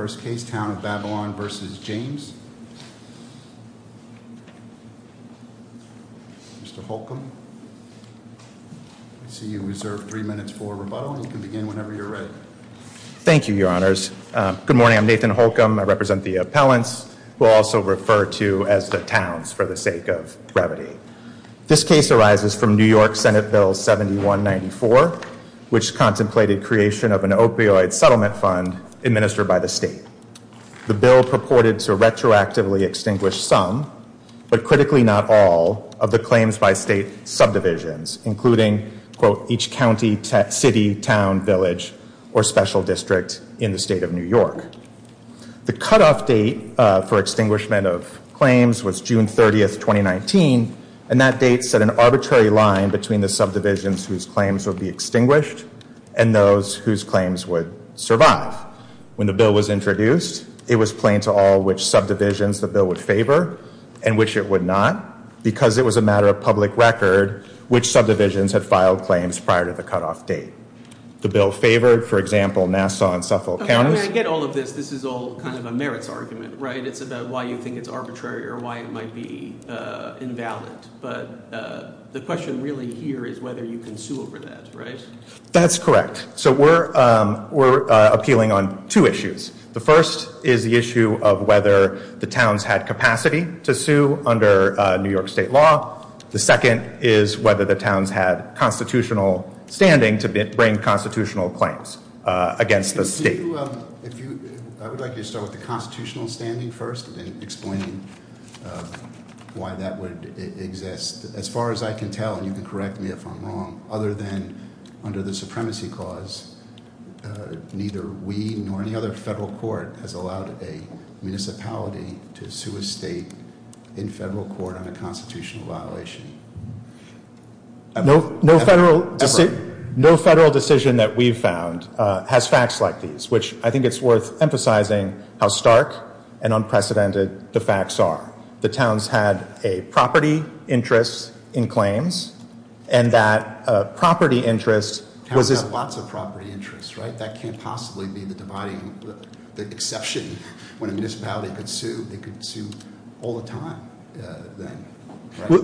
Nathan Holcomb, Appellant, Towns for the Sake of Brevity This case arises from New York Senate Bill 7194, which contemplated creation of an opioid settlement fund administered by the state. The bill purported to retroactively extinguish some, but critically not all, of the claims by state subdivisions, including, quote, each county, city, town, village, or special district in the state of New York. The cutoff date for extinguishment of claims was June 30, 2019, and that date set an arbitrary line between the subdivisions whose claims would be extinguished and those whose claims would survive. When the bill was introduced, it was plain to all which subdivisions the bill would favor and which it would not, because it was a matter of public record which subdivisions had filed claims prior to the cutoff date. The bill favored, for example, Nassau and Suffolk Counties. I get all of this. This is all kind of a merits argument, right? It's about why you think it's arbitrary or why it might be invalid, but the question really here is whether you can sue over that, right? That's correct. So we're appealing on two issues. The first is the issue of whether the towns had capacity to sue under New York state law. The second is whether the towns had constitutional standing to bring constitutional claims against the state. I would like you to start with the constitutional standing first and explaining why that would exist. As far as I can tell, and you can correct me if I'm wrong, other than under the supremacy clause, neither we nor any other federal court has allowed a municipality to sue a state in federal court on a constitutional violation. No federal decision that we've found has facts like these, which I think it's worth emphasizing how stark and unprecedented the facts are. The towns had a property interest in claims and that property interest was- The towns had lots of property interests, right? That can't possibly be the dividing, the exception when a municipality could sue, they could sue all the time then, right?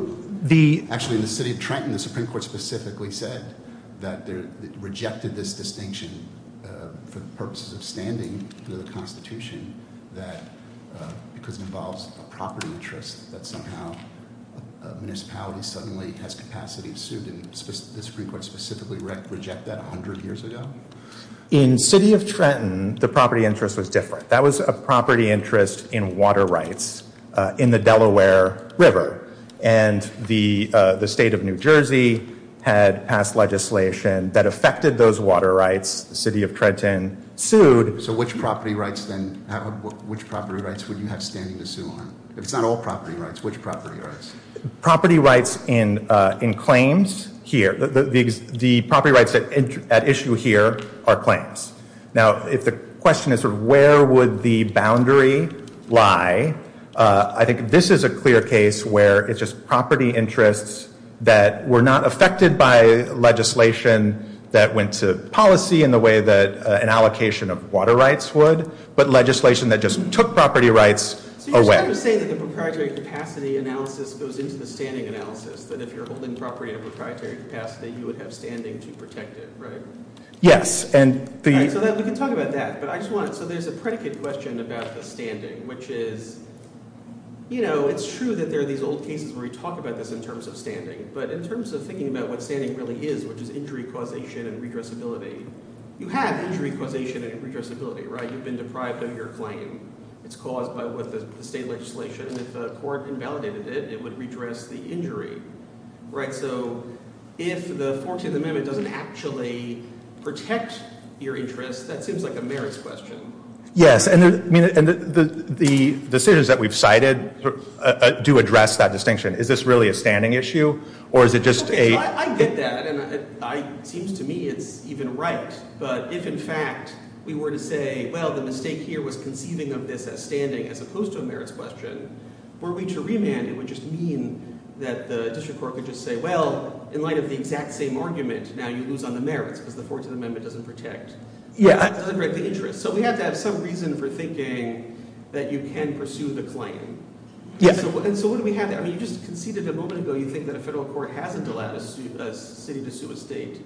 The- Actually, in the city of Trenton, the Supreme Court specifically said that they rejected this distinction for the purposes of standing to the Constitution that because it involves a property interest that somehow a municipality suddenly has capacity to sue. Didn't the Supreme Court specifically reject that 100 years ago? In city of Trenton, the property interest was different. That was a property interest in water rights in the Delaware River. And the state of New Jersey had passed legislation that affected those water rights. City of Trenton sued- So which property rights then, which property rights would you have standing to sue on? If it's not all property rights, which property rights? Property rights in claims here, the property rights at issue here are claims. Now, if the question is where would the boundary lie, I think this is a clear case where it's just property interests that were not affected by legislation that went to policy in the way that an allocation of water rights would, but legislation that just took property rights away. So you're saying that the proprietary capacity analysis goes into the standing analysis, that if you're holding property in a proprietary capacity, you would have standing to protect it, right? Yes, and the- All right, so we can talk about that, but I just wanted, so there's a predicate question about the standing, which is, you know, it's true that there are these old cases where we talk about this in terms of standing. But in terms of thinking about what standing really is, which is injury causation and redressability, you have injury causation and redressability, right? You've been deprived of your claim. It's caused by what the state legislation, and if the court invalidated it, it would redress the injury, right? So if the 14th Amendment doesn't actually protect your interests, that seems like a merits question. Yes, and the decisions that we've cited do address that distinction. Is this really a standing issue, or is it just a- Okay, so I get that, and it seems to me it's even right. But if, in fact, we were to say, well, the mistake here was conceiving of this as standing as opposed to a merits question, were we to remand, it would just mean that the district court would just say, well, in light of the exact same argument, now you lose on the merits because the 14th Amendment doesn't protect. Yeah. It doesn't protect the interest. So we have to have some reason for thinking that you can pursue the claim. Yes. And so what do we have there? I mean, you just conceded a moment ago, you think that a federal court hasn't allowed a city to sue a state.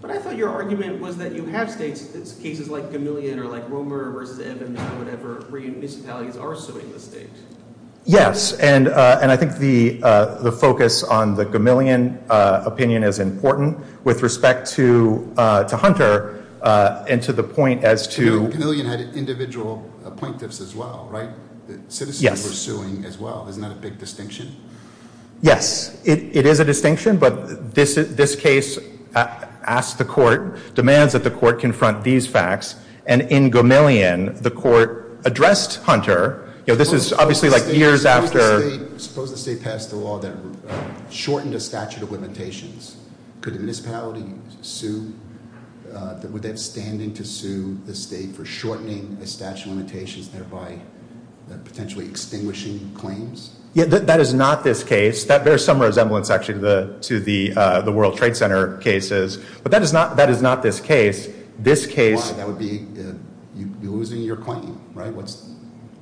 But I thought your argument was that you have states, cases like Gamillion, or like Romer, or whatever, where municipalities are suing the state. Yes, and I think the focus on the Gamillion opinion is important. With respect to Hunter, and to the point as to- And Gamillion had individual appointives as well, right? Yes. And they were suing as well. Isn't that a big distinction? Yes, it is a distinction, but this case asks the court, demands that the court confront these facts, and in Gamillion, the court addressed Hunter. This is obviously like years after- Suppose the state passed a law that shortened a statute of limitations. Could a municipality sue, would they have standing to sue the state for shortening a statute of limitations, thereby potentially extinguishing claims? Yeah, that is not this case. That bears some resemblance, actually, to the World Trade Center cases. But that is not this case. This case- Why? That would be, you're losing your claim, right?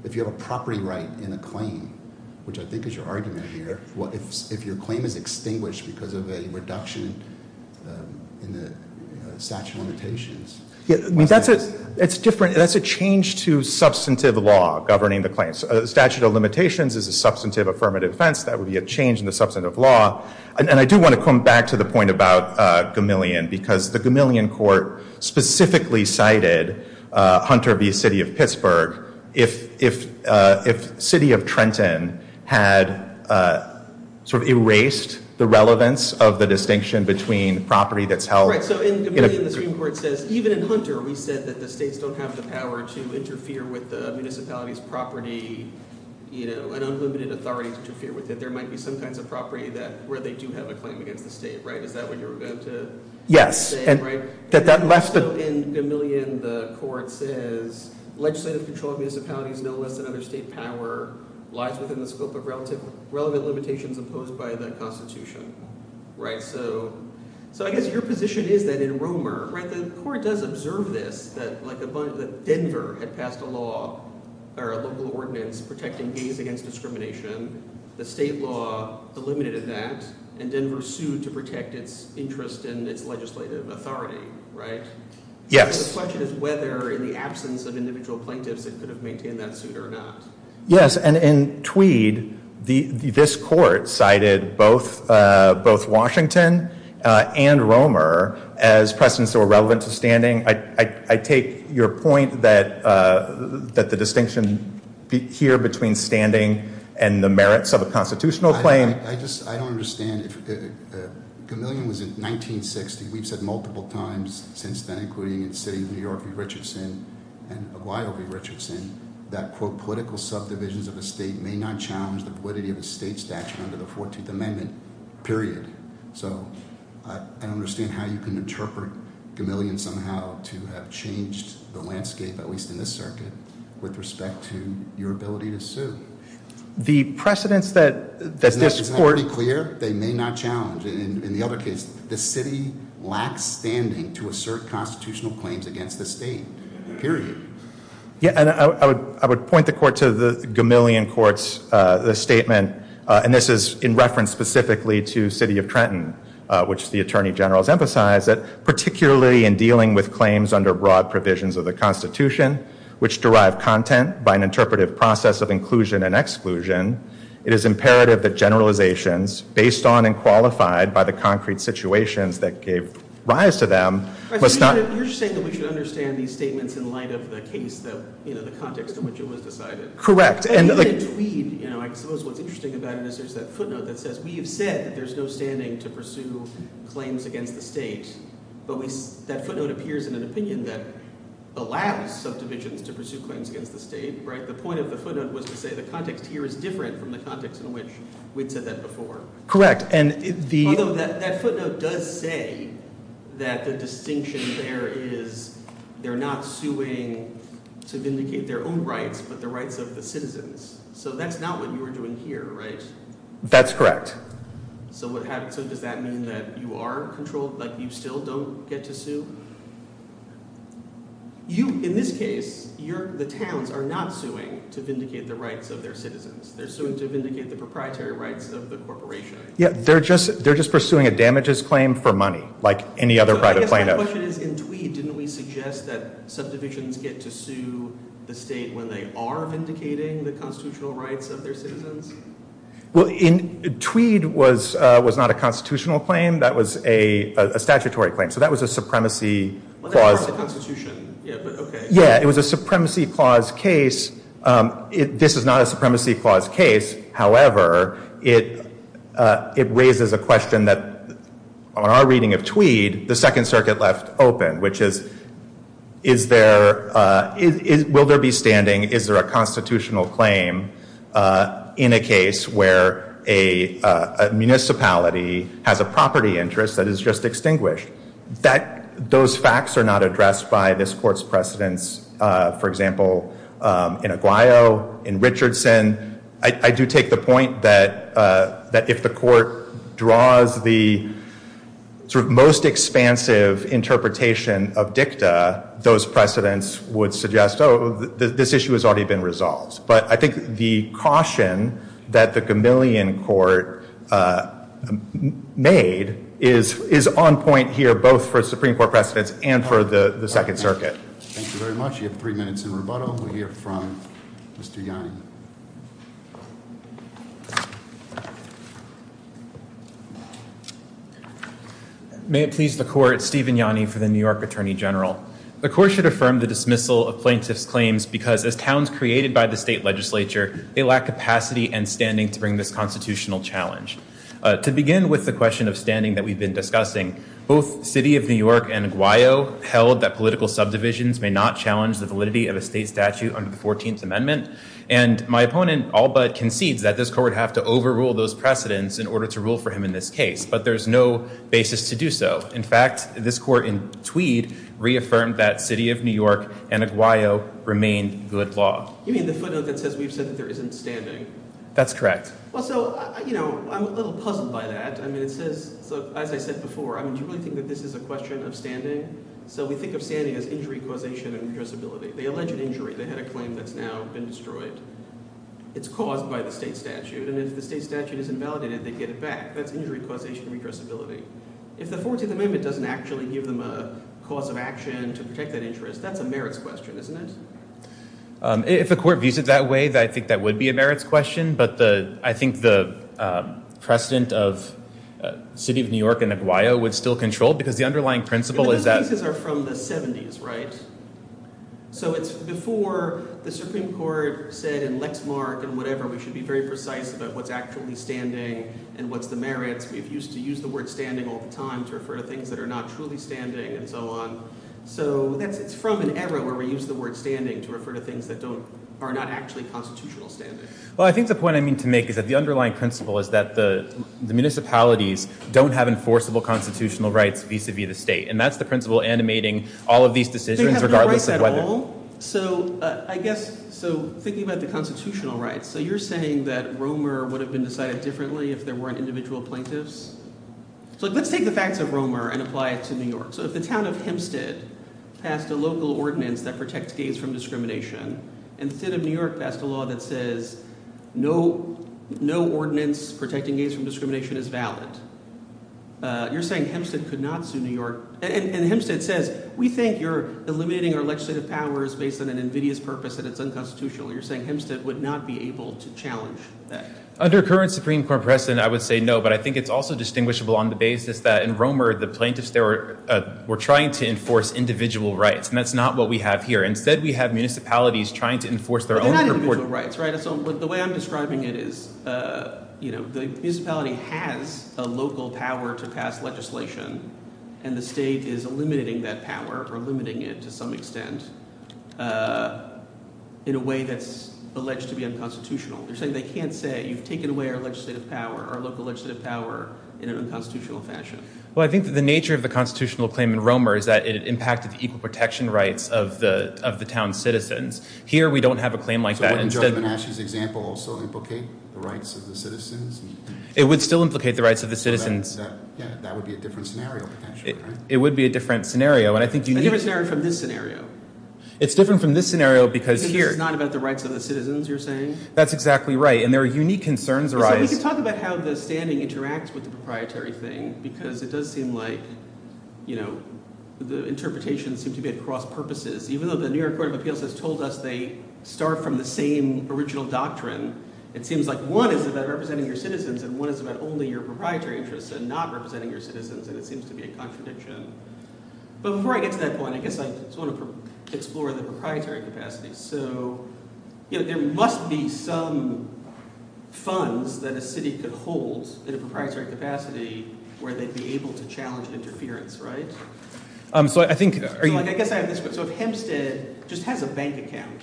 If you have a property right in a claim, which I think is your argument here, if your claim is extinguished because of a reduction in the statute of limitations. Yeah, I mean, that's a change to substantive law governing the claims. Statute of limitations is a substantive affirmative defense. That would be a change in the substantive law. And I do want to come back to the point about Gamillion, because the Gamillion court specifically cited Hunter v. City of Pittsburgh if City of Trenton had sort of erased the relevance of the distinction between property that's held- So in Gamillion, the Supreme Court says, even in Hunter, we said that the states don't have the power to interfere with the municipality's property. You know, an unlimited authority to interfere with it. There might be some kinds of property where they do have a claim against the state, right? Is that what you were about to say? Yes. Right? That that left the- In Gamillion, the court says legislative control of municipalities, no less than other state power, lies within the scope of relevant limitations imposed by the Constitution. Right? So I guess your position is that in Romer, right, the court does observe this, that like a bunch- that Denver had passed a law, or a local ordinance protecting gays against discrimination. The state law eliminated that, and Denver sued to protect its interest in its legislative authority, right? Yes. The question is whether, in the absence of individual plaintiffs, it could have maintained that suit or not. Yes, and in Tweed, this court cited both Washington and Romer as precedents that were relevant to standing. I take your point that the distinction here between standing and the merits of a constitutional claim- I just, I don't understand. Gamillion was in 1960. We've said multiple times since then, including in the city of New York v. Richardson and Aguayo v. Richardson, that, quote, political subdivisions of a state may not challenge the validity of a state statute under the 14th Amendment, period. So, I don't understand how you can interpret Gamillion somehow to have changed the landscape, at least in this circuit, with respect to your ability to sue. The precedents that this court- Isn't that pretty clear? They may not challenge. In the other case, the city lacks standing to assert constitutional claims against the state, period. Yeah, and I would point the court to the Gamillion court's statement, and this is in reference specifically to city of Trenton, which the Attorney General has emphasized, that particularly in dealing with claims under broad provisions of the Constitution, which derive content by an interpretive process of inclusion and exclusion, it is imperative that generalizations based on and qualified by the concrete situations that gave rise to them was not- You're saying that we should understand these statements in light of the case, the context in which it was decided. Correct. And in the tweet, I suppose what's interesting about it is there's that footnote that says, we have said that there's no standing to pursue claims against the state. But that footnote appears in an opinion that allows subdivisions to pursue claims against the state, right? And the point of the footnote was to say the context here is different from the context in which we'd said that before. Correct, and the- Although that footnote does say that the distinction there is, they're not suing to vindicate their own rights, but the rights of the citizens. So that's not what you were doing here, right? That's correct. So does that mean that you are controlled, like you still don't get to sue? You, in this case, the towns are not suing to vindicate the rights of their citizens. They're suing to vindicate the proprietary rights of the corporation. Yeah, they're just pursuing a damages claim for money, like any other right of plaintiff. So I guess my question is, in Tweed, didn't we suggest that subdivisions get to sue the state when they are vindicating the constitutional rights of their citizens? Well, in Tweed was not a constitutional claim. That was a statutory claim. So that was a supremacy clause. Like a part of the Constitution, yeah, but okay. Yeah, it was a supremacy clause case. This is not a supremacy clause case. However, it raises a question that, on our reading of Tweed, the Second Circuit left open, which is, will there be standing, is there a constitutional claim in a case where a municipality has a property interest that is just extinguished? Those facts are not addressed by this Court's precedents, for example, in Aguayo, in Richardson. I do take the point that if the Court draws the most expansive interpretation of dicta, those precedents would suggest, oh, this issue has already been resolved. But I think the caution that the Gamillion Court made is on point here, both for Supreme Court precedents and for the Second Circuit. Thank you very much. You have three minutes in rebuttal. We'll hear from Mr. Yanni. May it please the Court, Stephen Yanni for the New York Attorney General. The Court should affirm the dismissal of plaintiffs' claims because, as towns created by the state legislature, they lack capacity and standing to bring this constitutional challenge. To begin with the question of standing that we've been discussing, both City of New York and Aguayo held that political subdivisions may not challenge the validity of a state statute under the 14th Amendment. And my opponent all but concedes that this Court would have to overrule those precedents in order to rule for him in this case. But there's no basis to do so. In fact, this Court in Tweed reaffirmed that City of New York and Aguayo remain good law. You mean the footnote that says we've said that there isn't standing? That's correct. Well, so, you know, I'm a little puzzled by that. I mean, it says, as I said before, I mean, do you really think that this is a question of standing? So we think of standing as injury causation and redressability. They alleged injury. They had a claim that's now been destroyed. It's caused by the state statute. And if the state statute is invalidated, they get it back. That's injury causation and redressability. If the 14th Amendment doesn't actually give them a cause of action to protect that interest, that's a merits question, isn't it? If the Court views it that way, I think that would be a merits question. But I think the precedent of City of New York and Aguayo would still control, because the underlying principle is that- Those pieces are from the 70s, right? So it's before the Supreme Court said in Lexmark and whatever, we should be very precise about what's actually standing and what's the merits. We used to use the word standing all the time to refer to things that are not truly standing and so on. So it's from an era where we use the word standing to refer to things that are not actually constitutional standing. Well, I think the point I mean to make is that the underlying principle is that the municipalities don't have enforceable constitutional rights vis-a-vis the state. And that's the principle animating all of these decisions regardless of whether- They have no rights at all. So I guess, so thinking about the constitutional rights, so you're saying that Romer would have been decided differently if there weren't individual plaintiffs? So let's take the facts of Romer and apply it to New York. So if the town of Hempstead passed a local ordinance that protects gays from discrimination, and the state of New York passed a law that says no ordinance protecting gays from discrimination is valid, you're saying Hempstead could not sue New York. And Hempstead says, we think you're eliminating our legislative powers based on an invidious purpose and it's unconstitutional. You're saying Hempstead would not be able to challenge that. Under current Supreme Court precedent, I would say no, but I think it's also distinguishable on the basis that in Romer, the plaintiffs there were trying to enforce individual rights and that's not what we have here. Instead, we have municipalities trying to enforce their own- They're not individual rights, right? So the way I'm describing it is, the municipality has a local power to pass legislation and the state is eliminating that power or limiting it to some extent in a way that's alleged to be unconstitutional. They're saying they can't say, you've taken away our legislative power, our local legislative power in an unconstitutional fashion. Well, I think that the nature of the constitutional claim in Romer is that it impacted the equal protection rights of the town's citizens. Here, we don't have a claim like that. Wouldn't Joe Benashi's example also implicate the rights of the citizens? It would still implicate the rights of the citizens. That would be a different scenario, potentially, right? It would be a different scenario. A different scenario from this scenario. It's different from this scenario because here- This is not about the rights of the citizens, you're saying? That's exactly right. And their unique concerns arise- So we can talk about how the standing interacts with the proprietary thing because it does seem like, you know, the interpretations seem to be at cross purposes. Even though the New York Court of Appeals has told us they start from the same original doctrine, it seems like one is about representing your citizens and one is about only your proprietary interests and not representing your citizens, and it seems to be a contradiction. But before I get to that point, I guess I just want to explore the proprietary capacity. So, you know, there must be some funds that a city could hold in a proprietary capacity where they'd be able to challenge interference, right? So I think- So, like, I guess I have this- So if Hempstead just has a bank account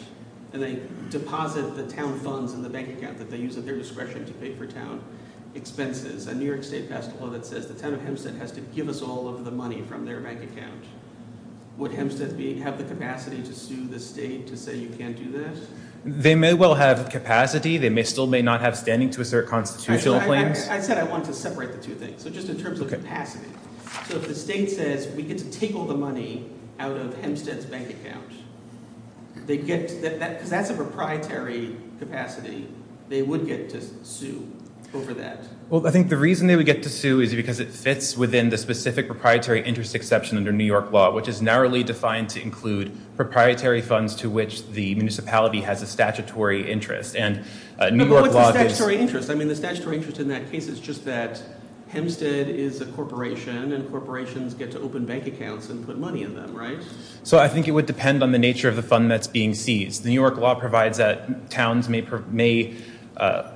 and they deposit the town funds in the bank account that they use at their discretion to pay for town expenses, a New York State pastoral that says the town of Hempstead has to give us all of the money from their bank account, would Hempstead have the capacity to sue the state to say you can't do this? They may well have capacity, they may still may not have standing to assert constitutional claims. I said I wanted to separate the two things, so just in terms of capacity. So if the state says we get to take all the money out of Hempstead's bank account, because that's a proprietary capacity, they would get to sue over that. Well, I think the reason they would get to sue is because it fits within the specific proprietary interest exception under New York law, which is narrowly defined to include proprietary funds to which the municipality has a statutory interest. And New York law... What's the statutory interest? I mean, the statutory interest in that case is just that Hempstead is a corporation and corporations get to open bank accounts and put money in them, right? So I think it would depend on the nature of the fund that's being seized. The New York law provides that towns may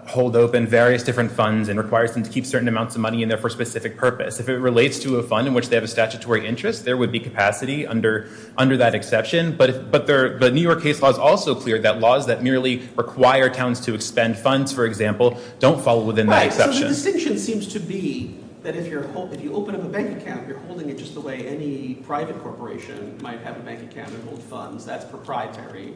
hold open various different funds and requires them to keep certain amounts of money in there for a specific purpose. If it relates to a fund in which they have a statutory interest, there would be capacity under that exception. But the New York case law is also clear that laws that merely require towns to expend funds, for example, don't fall within that exception. The distinction seems to be that if you open up a bank account, you're holding it just the way any private corporation might have a bank account and hold funds. That's proprietary.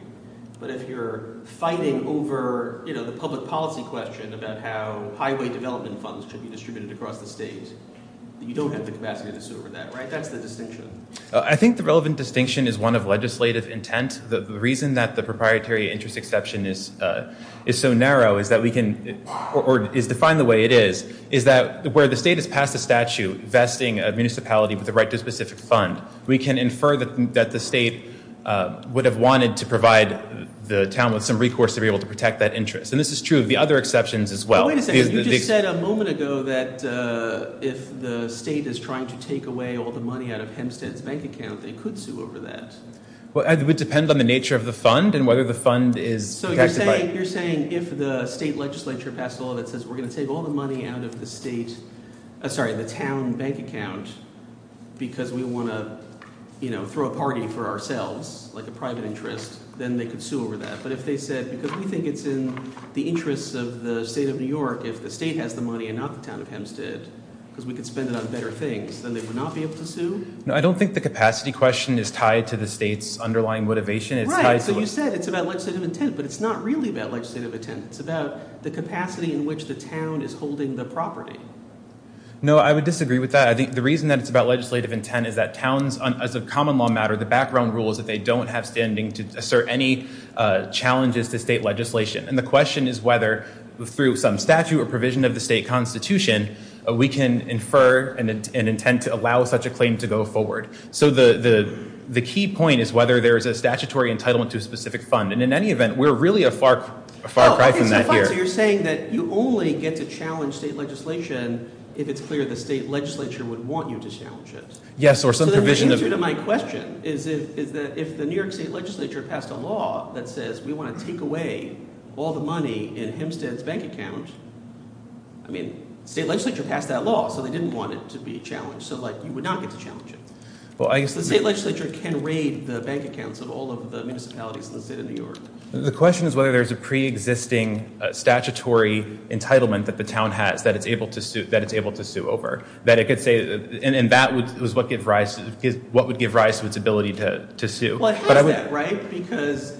But if you're fighting over the public policy question about how highway development funds could be distributed across the state, you don't have the capacity to sue over that, right? I think the relevant distinction is one of legislative intent. The reason that the proprietary interest exception is so narrow is that we can, or is defined the way it is, is that where the state has passed a statute vesting a municipality with the right to a specific fund, we can infer that the state would have wanted to provide the town with some recourse to be able to protect that interest. And this is true of the other exceptions as well. Wait a second. You just said a moment ago that if the state is trying to take away all the money out of Hempstead's bank account, they could sue over that. Well, it would depend on the nature of the fund and whether the fund is protected by- So you're saying if the state legislature passed a law that says we're going to take all the money out of the state, sorry, the town bank account because we want to, you know, throw a party for ourselves, like a private interest, then they could sue over that. But if they said, because we think it's in the interests of the state of New York, if the state has the money and not the town of Hempstead, because we could spend it on better things, then they would not be able to sue? No, I don't think the capacity question is tied to the state's underlying motivation. Right, so you said it's about legislative intent, but it's not really about legislative intent. It's about the capacity in which the town is holding the property. No, I would disagree with that. I think the reason that it's about legislative intent is that towns, as a common law matter, the background rule is that they don't have standing to assert any challenges to state legislation. And the question is whether through some statute or provision of the state constitution, we can infer and intend to allow such a claim to go forward. So the key point is whether there is a statutory entitlement to a specific fund. And in any event, we're really a far cry from that here. So you're saying that you only get to challenge state legislation if it's clear the state legislature would want you to challenge it? Yes, or some provision of- So then the answer to my question is that if the New York state legislature passed a law that says we want to take away all the money in Hempstead's bank account, I mean, state legislature passed that law, so they didn't want it to be challenged. So you would not get to challenge it. Well, I guess- The state legislature can raid the bank accounts of all of the municipalities in the state of New York. The question is whether there's a pre-existing statutory entitlement that the town has that it's able to sue over. That it could say, and that was what would give rise to its ability to sue. Well, it has that, right? Because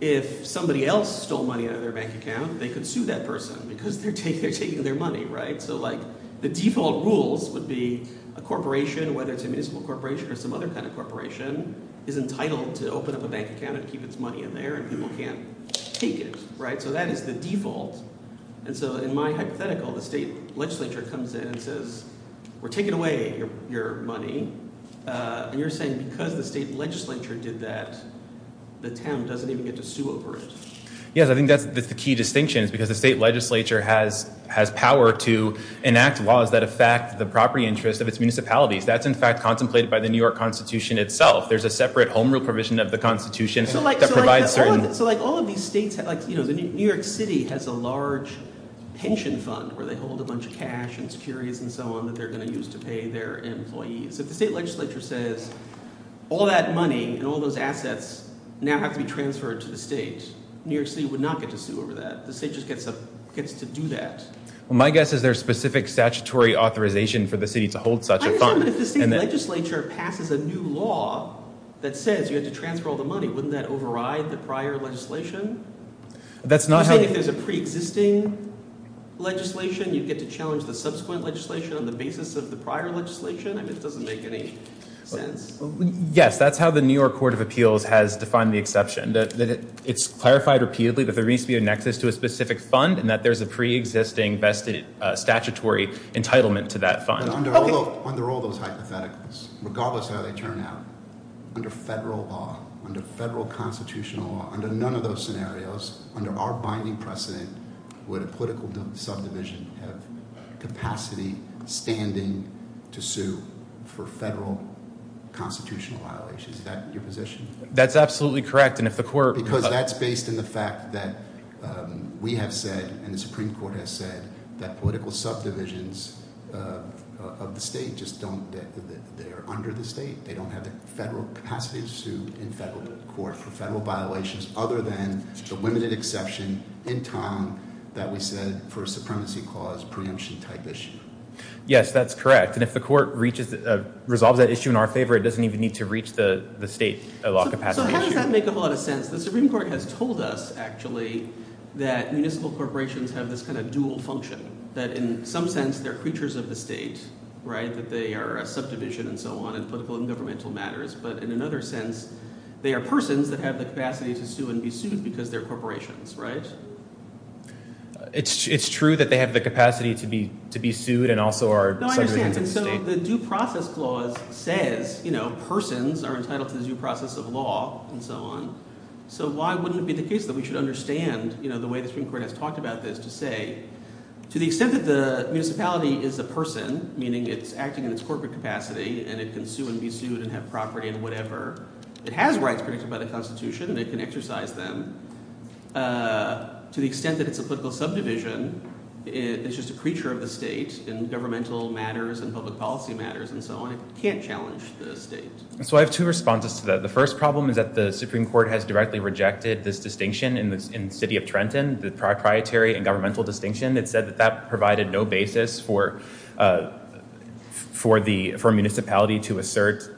if somebody else stole money out of their bank account, they could sue that person because they're taking their money, right? So the default rules would be a corporation, whether it's a municipal corporation or some other kind of corporation, is entitled to open up a bank account and keep its money in there, and people can't take it, right? So that is the default. And so in my hypothetical, the state legislature comes in and says, we're taking away your money. And you're saying because the state legislature did that, the town doesn't even get to sue over it. Yes, I think that's the key distinction is because the state legislature has power to enact laws that affect the property interest of its municipalities. That's in fact contemplated by the New York constitution itself. There's a separate home rule provision of the constitution that provides certain- So like all of these states, New York City has a large pension fund where they hold a bunch of cash and securities and so on that they're gonna use to pay their employees. If the state legislature says, all that money and all those assets now have to be transferred to the state, New York City would not get to sue over that. The state just gets to do that. Well, my guess is there a specific statutory authorization for the city to hold such a fund. If the state legislature passes a new law that says you have to transfer all the money, wouldn't that override the prior legislation? That's not how- You're saying if there's a preexisting legislation, you'd get to challenge the subsequent legislation on the basis of the prior legislation? I mean, it doesn't make any sense. Yes, that's how the New York court of appeals has defined the exception. It's clarified repeatedly, that there needs to be a nexus to a specific fund and that there's a preexisting vested statutory entitlement to that fund. But under all those hypotheticals, regardless how they turn out, under federal law, under federal constitutional law, under none of those scenarios, under our binding precedent, would a political subdivision have capacity, standing to sue for federal constitutional violations? Is that your position? That's absolutely correct. And if the court- That's based on the fact that we have said, and the Supreme Court has said, that political subdivisions of the state just don't- they're under the state. They don't have the federal capacity to sue in federal court for federal violations, other than the limited exception in time that we said for a supremacy clause preemption type issue. Yes, that's correct. And if the court resolves that issue in our favor, it doesn't even need to reach the state law capacity. So how does that make a lot of sense? The Supreme Court has told us, actually, that municipal corporations have this kind of dual function. That in some sense, they're creatures of the state, right? That they are a subdivision and so on in political and governmental matters. But in another sense, they are persons that have the capacity to sue and be sued because they're corporations, right? It's true that they have the capacity to be sued and also are- No, I understand. And so the due process clause says, you know, persons are entitled to the due process of law and so on. So why wouldn't it be the case that we should understand, you know, the way the Supreme Court has talked about this to say, to the extent that the municipality is a person, meaning it's acting in its corporate capacity and it can sue and be sued and have property and whatever. It has rights predicted by the Constitution and it can exercise them. To the extent that it's a political subdivision, it's just a creature of the state in governmental matters and public policy matters and so on. It can't challenge the state. So I have two responses to that. The first problem is that the Supreme Court has directly rejected this distinction in the city of Trenton, the proprietary and governmental distinction that said that that provided no basis for a municipality to assert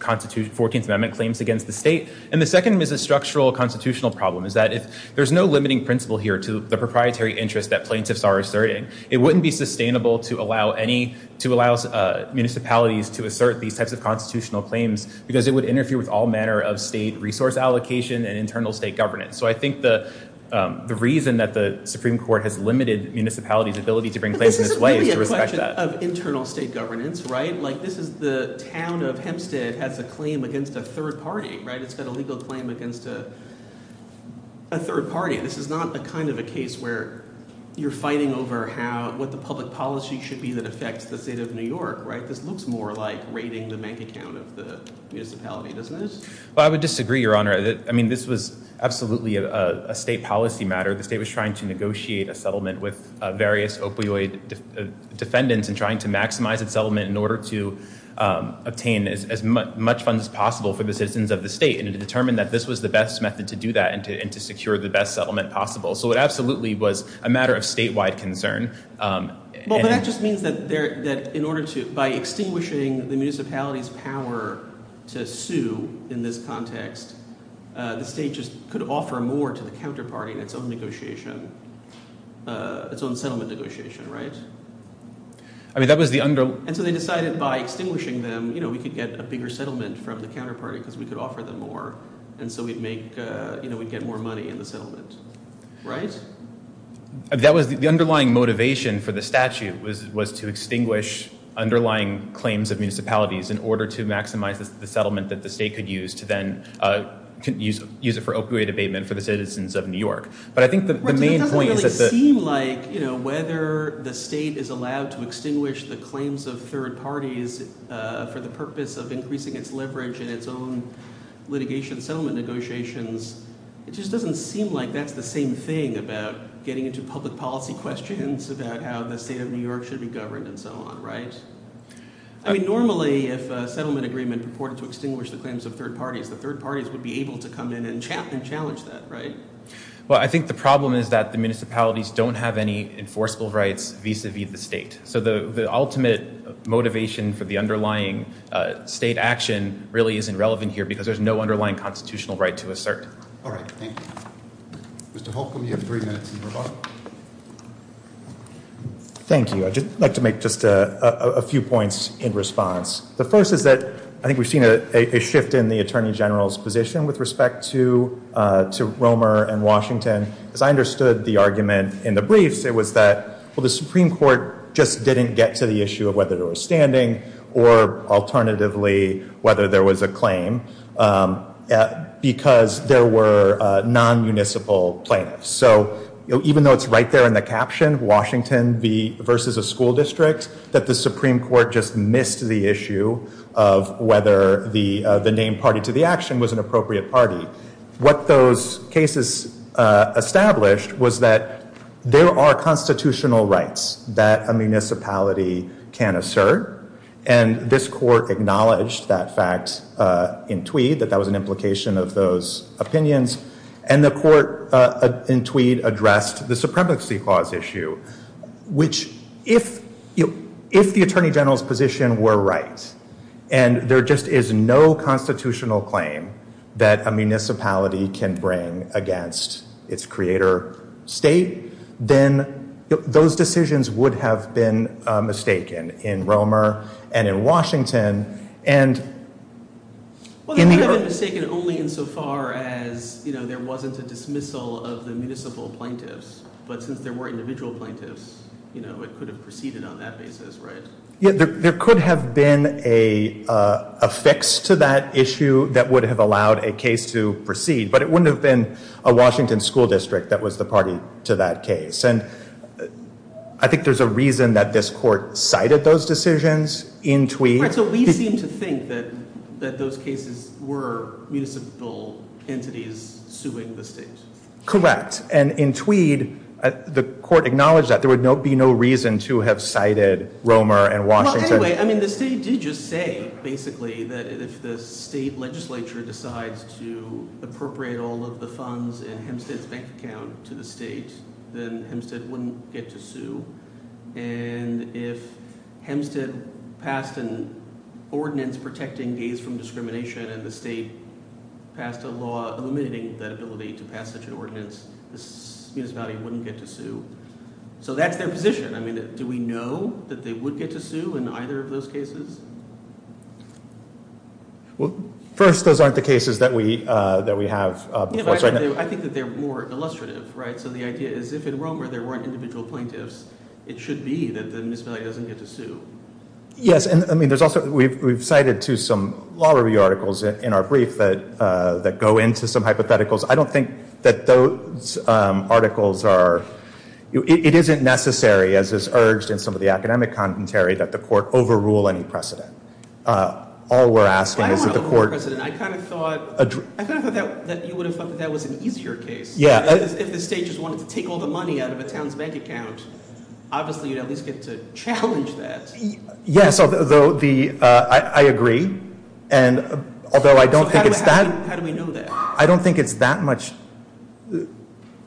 14th Amendment claims against the state. And the second is a structural constitutional problem is that if there's no limiting principle here to the proprietary interest that plaintiffs are asserting, it wouldn't be sustainable to allow any, to allow municipalities to assert these types of constitutional claims because it would interfere with all manner of state resource allocation and internal state governance. So I think the reason that the Supreme Court has limited municipalities' ability to bring claims in this way is to respect that. But this is a question of internal state governance, right? Like this is the town of Hempstead has a claim against a third party, right? It's got a legal claim against a third party. This is not a kind of a case where you're fighting over how, what the public policy should be that affects the state of New York, right? This looks more like raiding the bank account of the municipality, doesn't it? Well, I would disagree, Your Honor. I mean, this was absolutely a state policy matter. The state was trying to negotiate a settlement with various opioid defendants and trying to maximize its settlement in order to obtain as much funds as possible for the citizens of the state. And it determined that this was the best method to do that and to secure the best settlement possible. So it absolutely was a matter of statewide concern. Well, but that just means that in order to, by extinguishing the municipality's power to sue in this context, the state just could offer more to the counterparty in its own negotiation, its own settlement negotiation, right? I mean, that was the under... And so they decided by extinguishing them, we could get a bigger settlement from the counterparty because we could offer them more. And so we'd make, we'd get more money in the settlement, right? That was the underlying motivation for the statute was to extinguish underlying claims of municipalities in order to maximize the settlement that the state could use to then use it for opioid abatement for the citizens of New York. But I think the main point is that the... It doesn't really seem like whether the state is allowed to extinguish the claims of third parties for the purpose of increasing its leverage in its own litigation settlement negotiations. It just doesn't seem like that's the same thing about getting into public policy questions, about how the state of New York should be governed and so on, right? I mean, normally if a settlement agreement purported to extinguish the claims of third parties, the third parties would be able to come in and challenge that, right? Well, I think the problem is that the municipalities don't have any enforceable rights vis-a-vis the state. So the ultimate motivation for the underlying state action really isn't relevant here because there's no underlying constitutional right to assert. All right, thank you. Mr. Holcomb, you have three minutes in your book. Thank you. I'd just like to make just a few points in response. The first is that I think we've seen a shift in the Attorney General's position with respect to Romer and Washington. As I understood the argument in the briefs, it was that, well, the Supreme Court just didn't get to the issue of whether there was standing or alternatively whether there was a claim because there were non-municipal plaintiffs. So even though it's right there in the caption, Washington versus a school district, that the Supreme Court just missed the issue of whether the named party to the action was an appropriate party. What those cases established was that there are constitutional rights that a municipality can assert. And this court acknowledged that fact in Tweed, that that was an implication of those opinions. And the court in Tweed addressed the Supremacy Clause issue, which if the Attorney General's position were right, and there just is no constitutional claim that a municipality can bring against its creator state, then those decisions would have been mistaken in Romer and in Washington. And in the- Well, they would have been mistaken only insofar as there wasn't a dismissal of the municipal plaintiffs. But since there were individual plaintiffs, it could have proceeded on that basis, right? Yeah, there could have been a fix to that issue that would have allowed a case to proceed, but it wouldn't have been a Washington school district that was the party to that case. And I think there's a reason that this court cited those decisions in Tweed. Right, so we seem to think that those cases were municipal entities suing the state. Correct. And in Tweed, the court acknowledged that. There would be no reason to have cited Romer and Washington. Well, anyway, I mean, the state did just say, basically, that if the state legislature decides to appropriate all of the funds in Hempstead's bank account to the state, then Hempstead wouldn't get to sue. And if Hempstead passed an ordinance protecting gays from discrimination and the state passed a law eliminating that ability to pass such an ordinance, this municipality wouldn't get to sue. So that's their position. I mean, do we know that they would get to sue in either of those cases? Well, first, those aren't the cases that we have. I think that they're more illustrative, right? So the idea is if in Romer there weren't individual plaintiffs, it should be that the municipality doesn't get to sue. Yes, and I mean, there's also, we've cited to some law review articles in our brief that go into some hypotheticals. I don't think that those articles are, it isn't necessary, as is urged in some of the academic commentary, that the court overrule any precedent. All we're asking is that the court- I don't want to overrule precedent. I kind of thought that you would have thought that that was an easier case. Yeah. If the state just wanted to take all the money out of a town's bank account, obviously, you'd at least get to challenge that. Yes, although the, I agree. And although I don't think it's that- How do we know that? I don't think it's that much-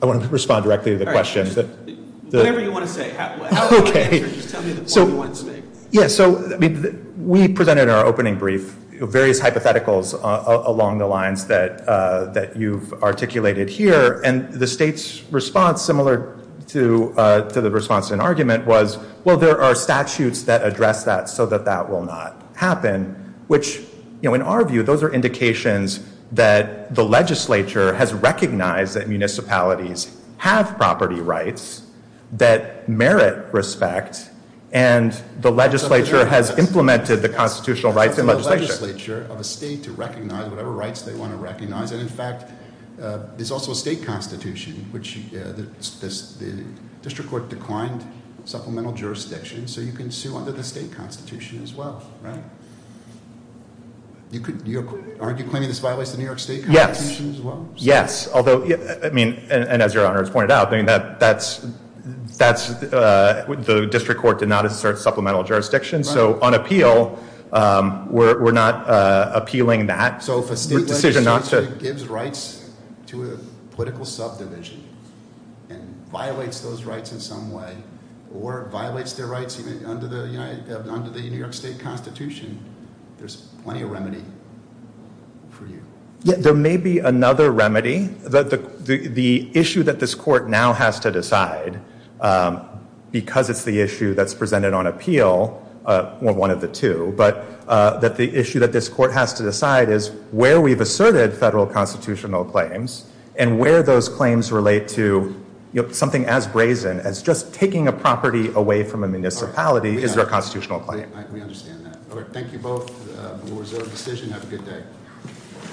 I want to respond directly to the question. All right, whatever you want to say, however you want to answer, just tell me the point you want to make. Yeah, so we presented in our opening brief various hypotheticals along the lines that you've articulated here, and the state's response, similar to the response to an argument, was, well, there are statutes that address that so that that will not happen, which, in our view, those are indications that the legislature has recognized that municipalities have property rights that merit respect, and the legislature has implemented the constitutional rights and legislation. It's up to the legislature of a state to recognize whatever rights they want to recognize. And in fact, there's also a state constitution, which the district court declined supplemental jurisdiction, so you can sue under the state constitution as well, right? Aren't you claiming this violates the New York state constitution as well? Yes, yes, although, I mean, and as your honor has pointed out, I mean, that's, the district court did not assert supplemental jurisdiction, so on appeal, we're not appealing that. So if a state legislature gives rights to a political subdivision and violates those rights in some way, or violates their rights even under the United, under the New York state constitution, there's plenty of remedy for you. Yeah, there may be another remedy, that the issue that this court now has to decide, because it's the issue that's presented on appeal, one of the two, but that the issue that this court has to decide is where we've asserted federal constitutional claims, and where those claims relate to, you know, something as brazen as just taking a property away from a municipality is their constitutional claim. We understand that. All right, thank you both. We'll reserve the decision. Have a good day.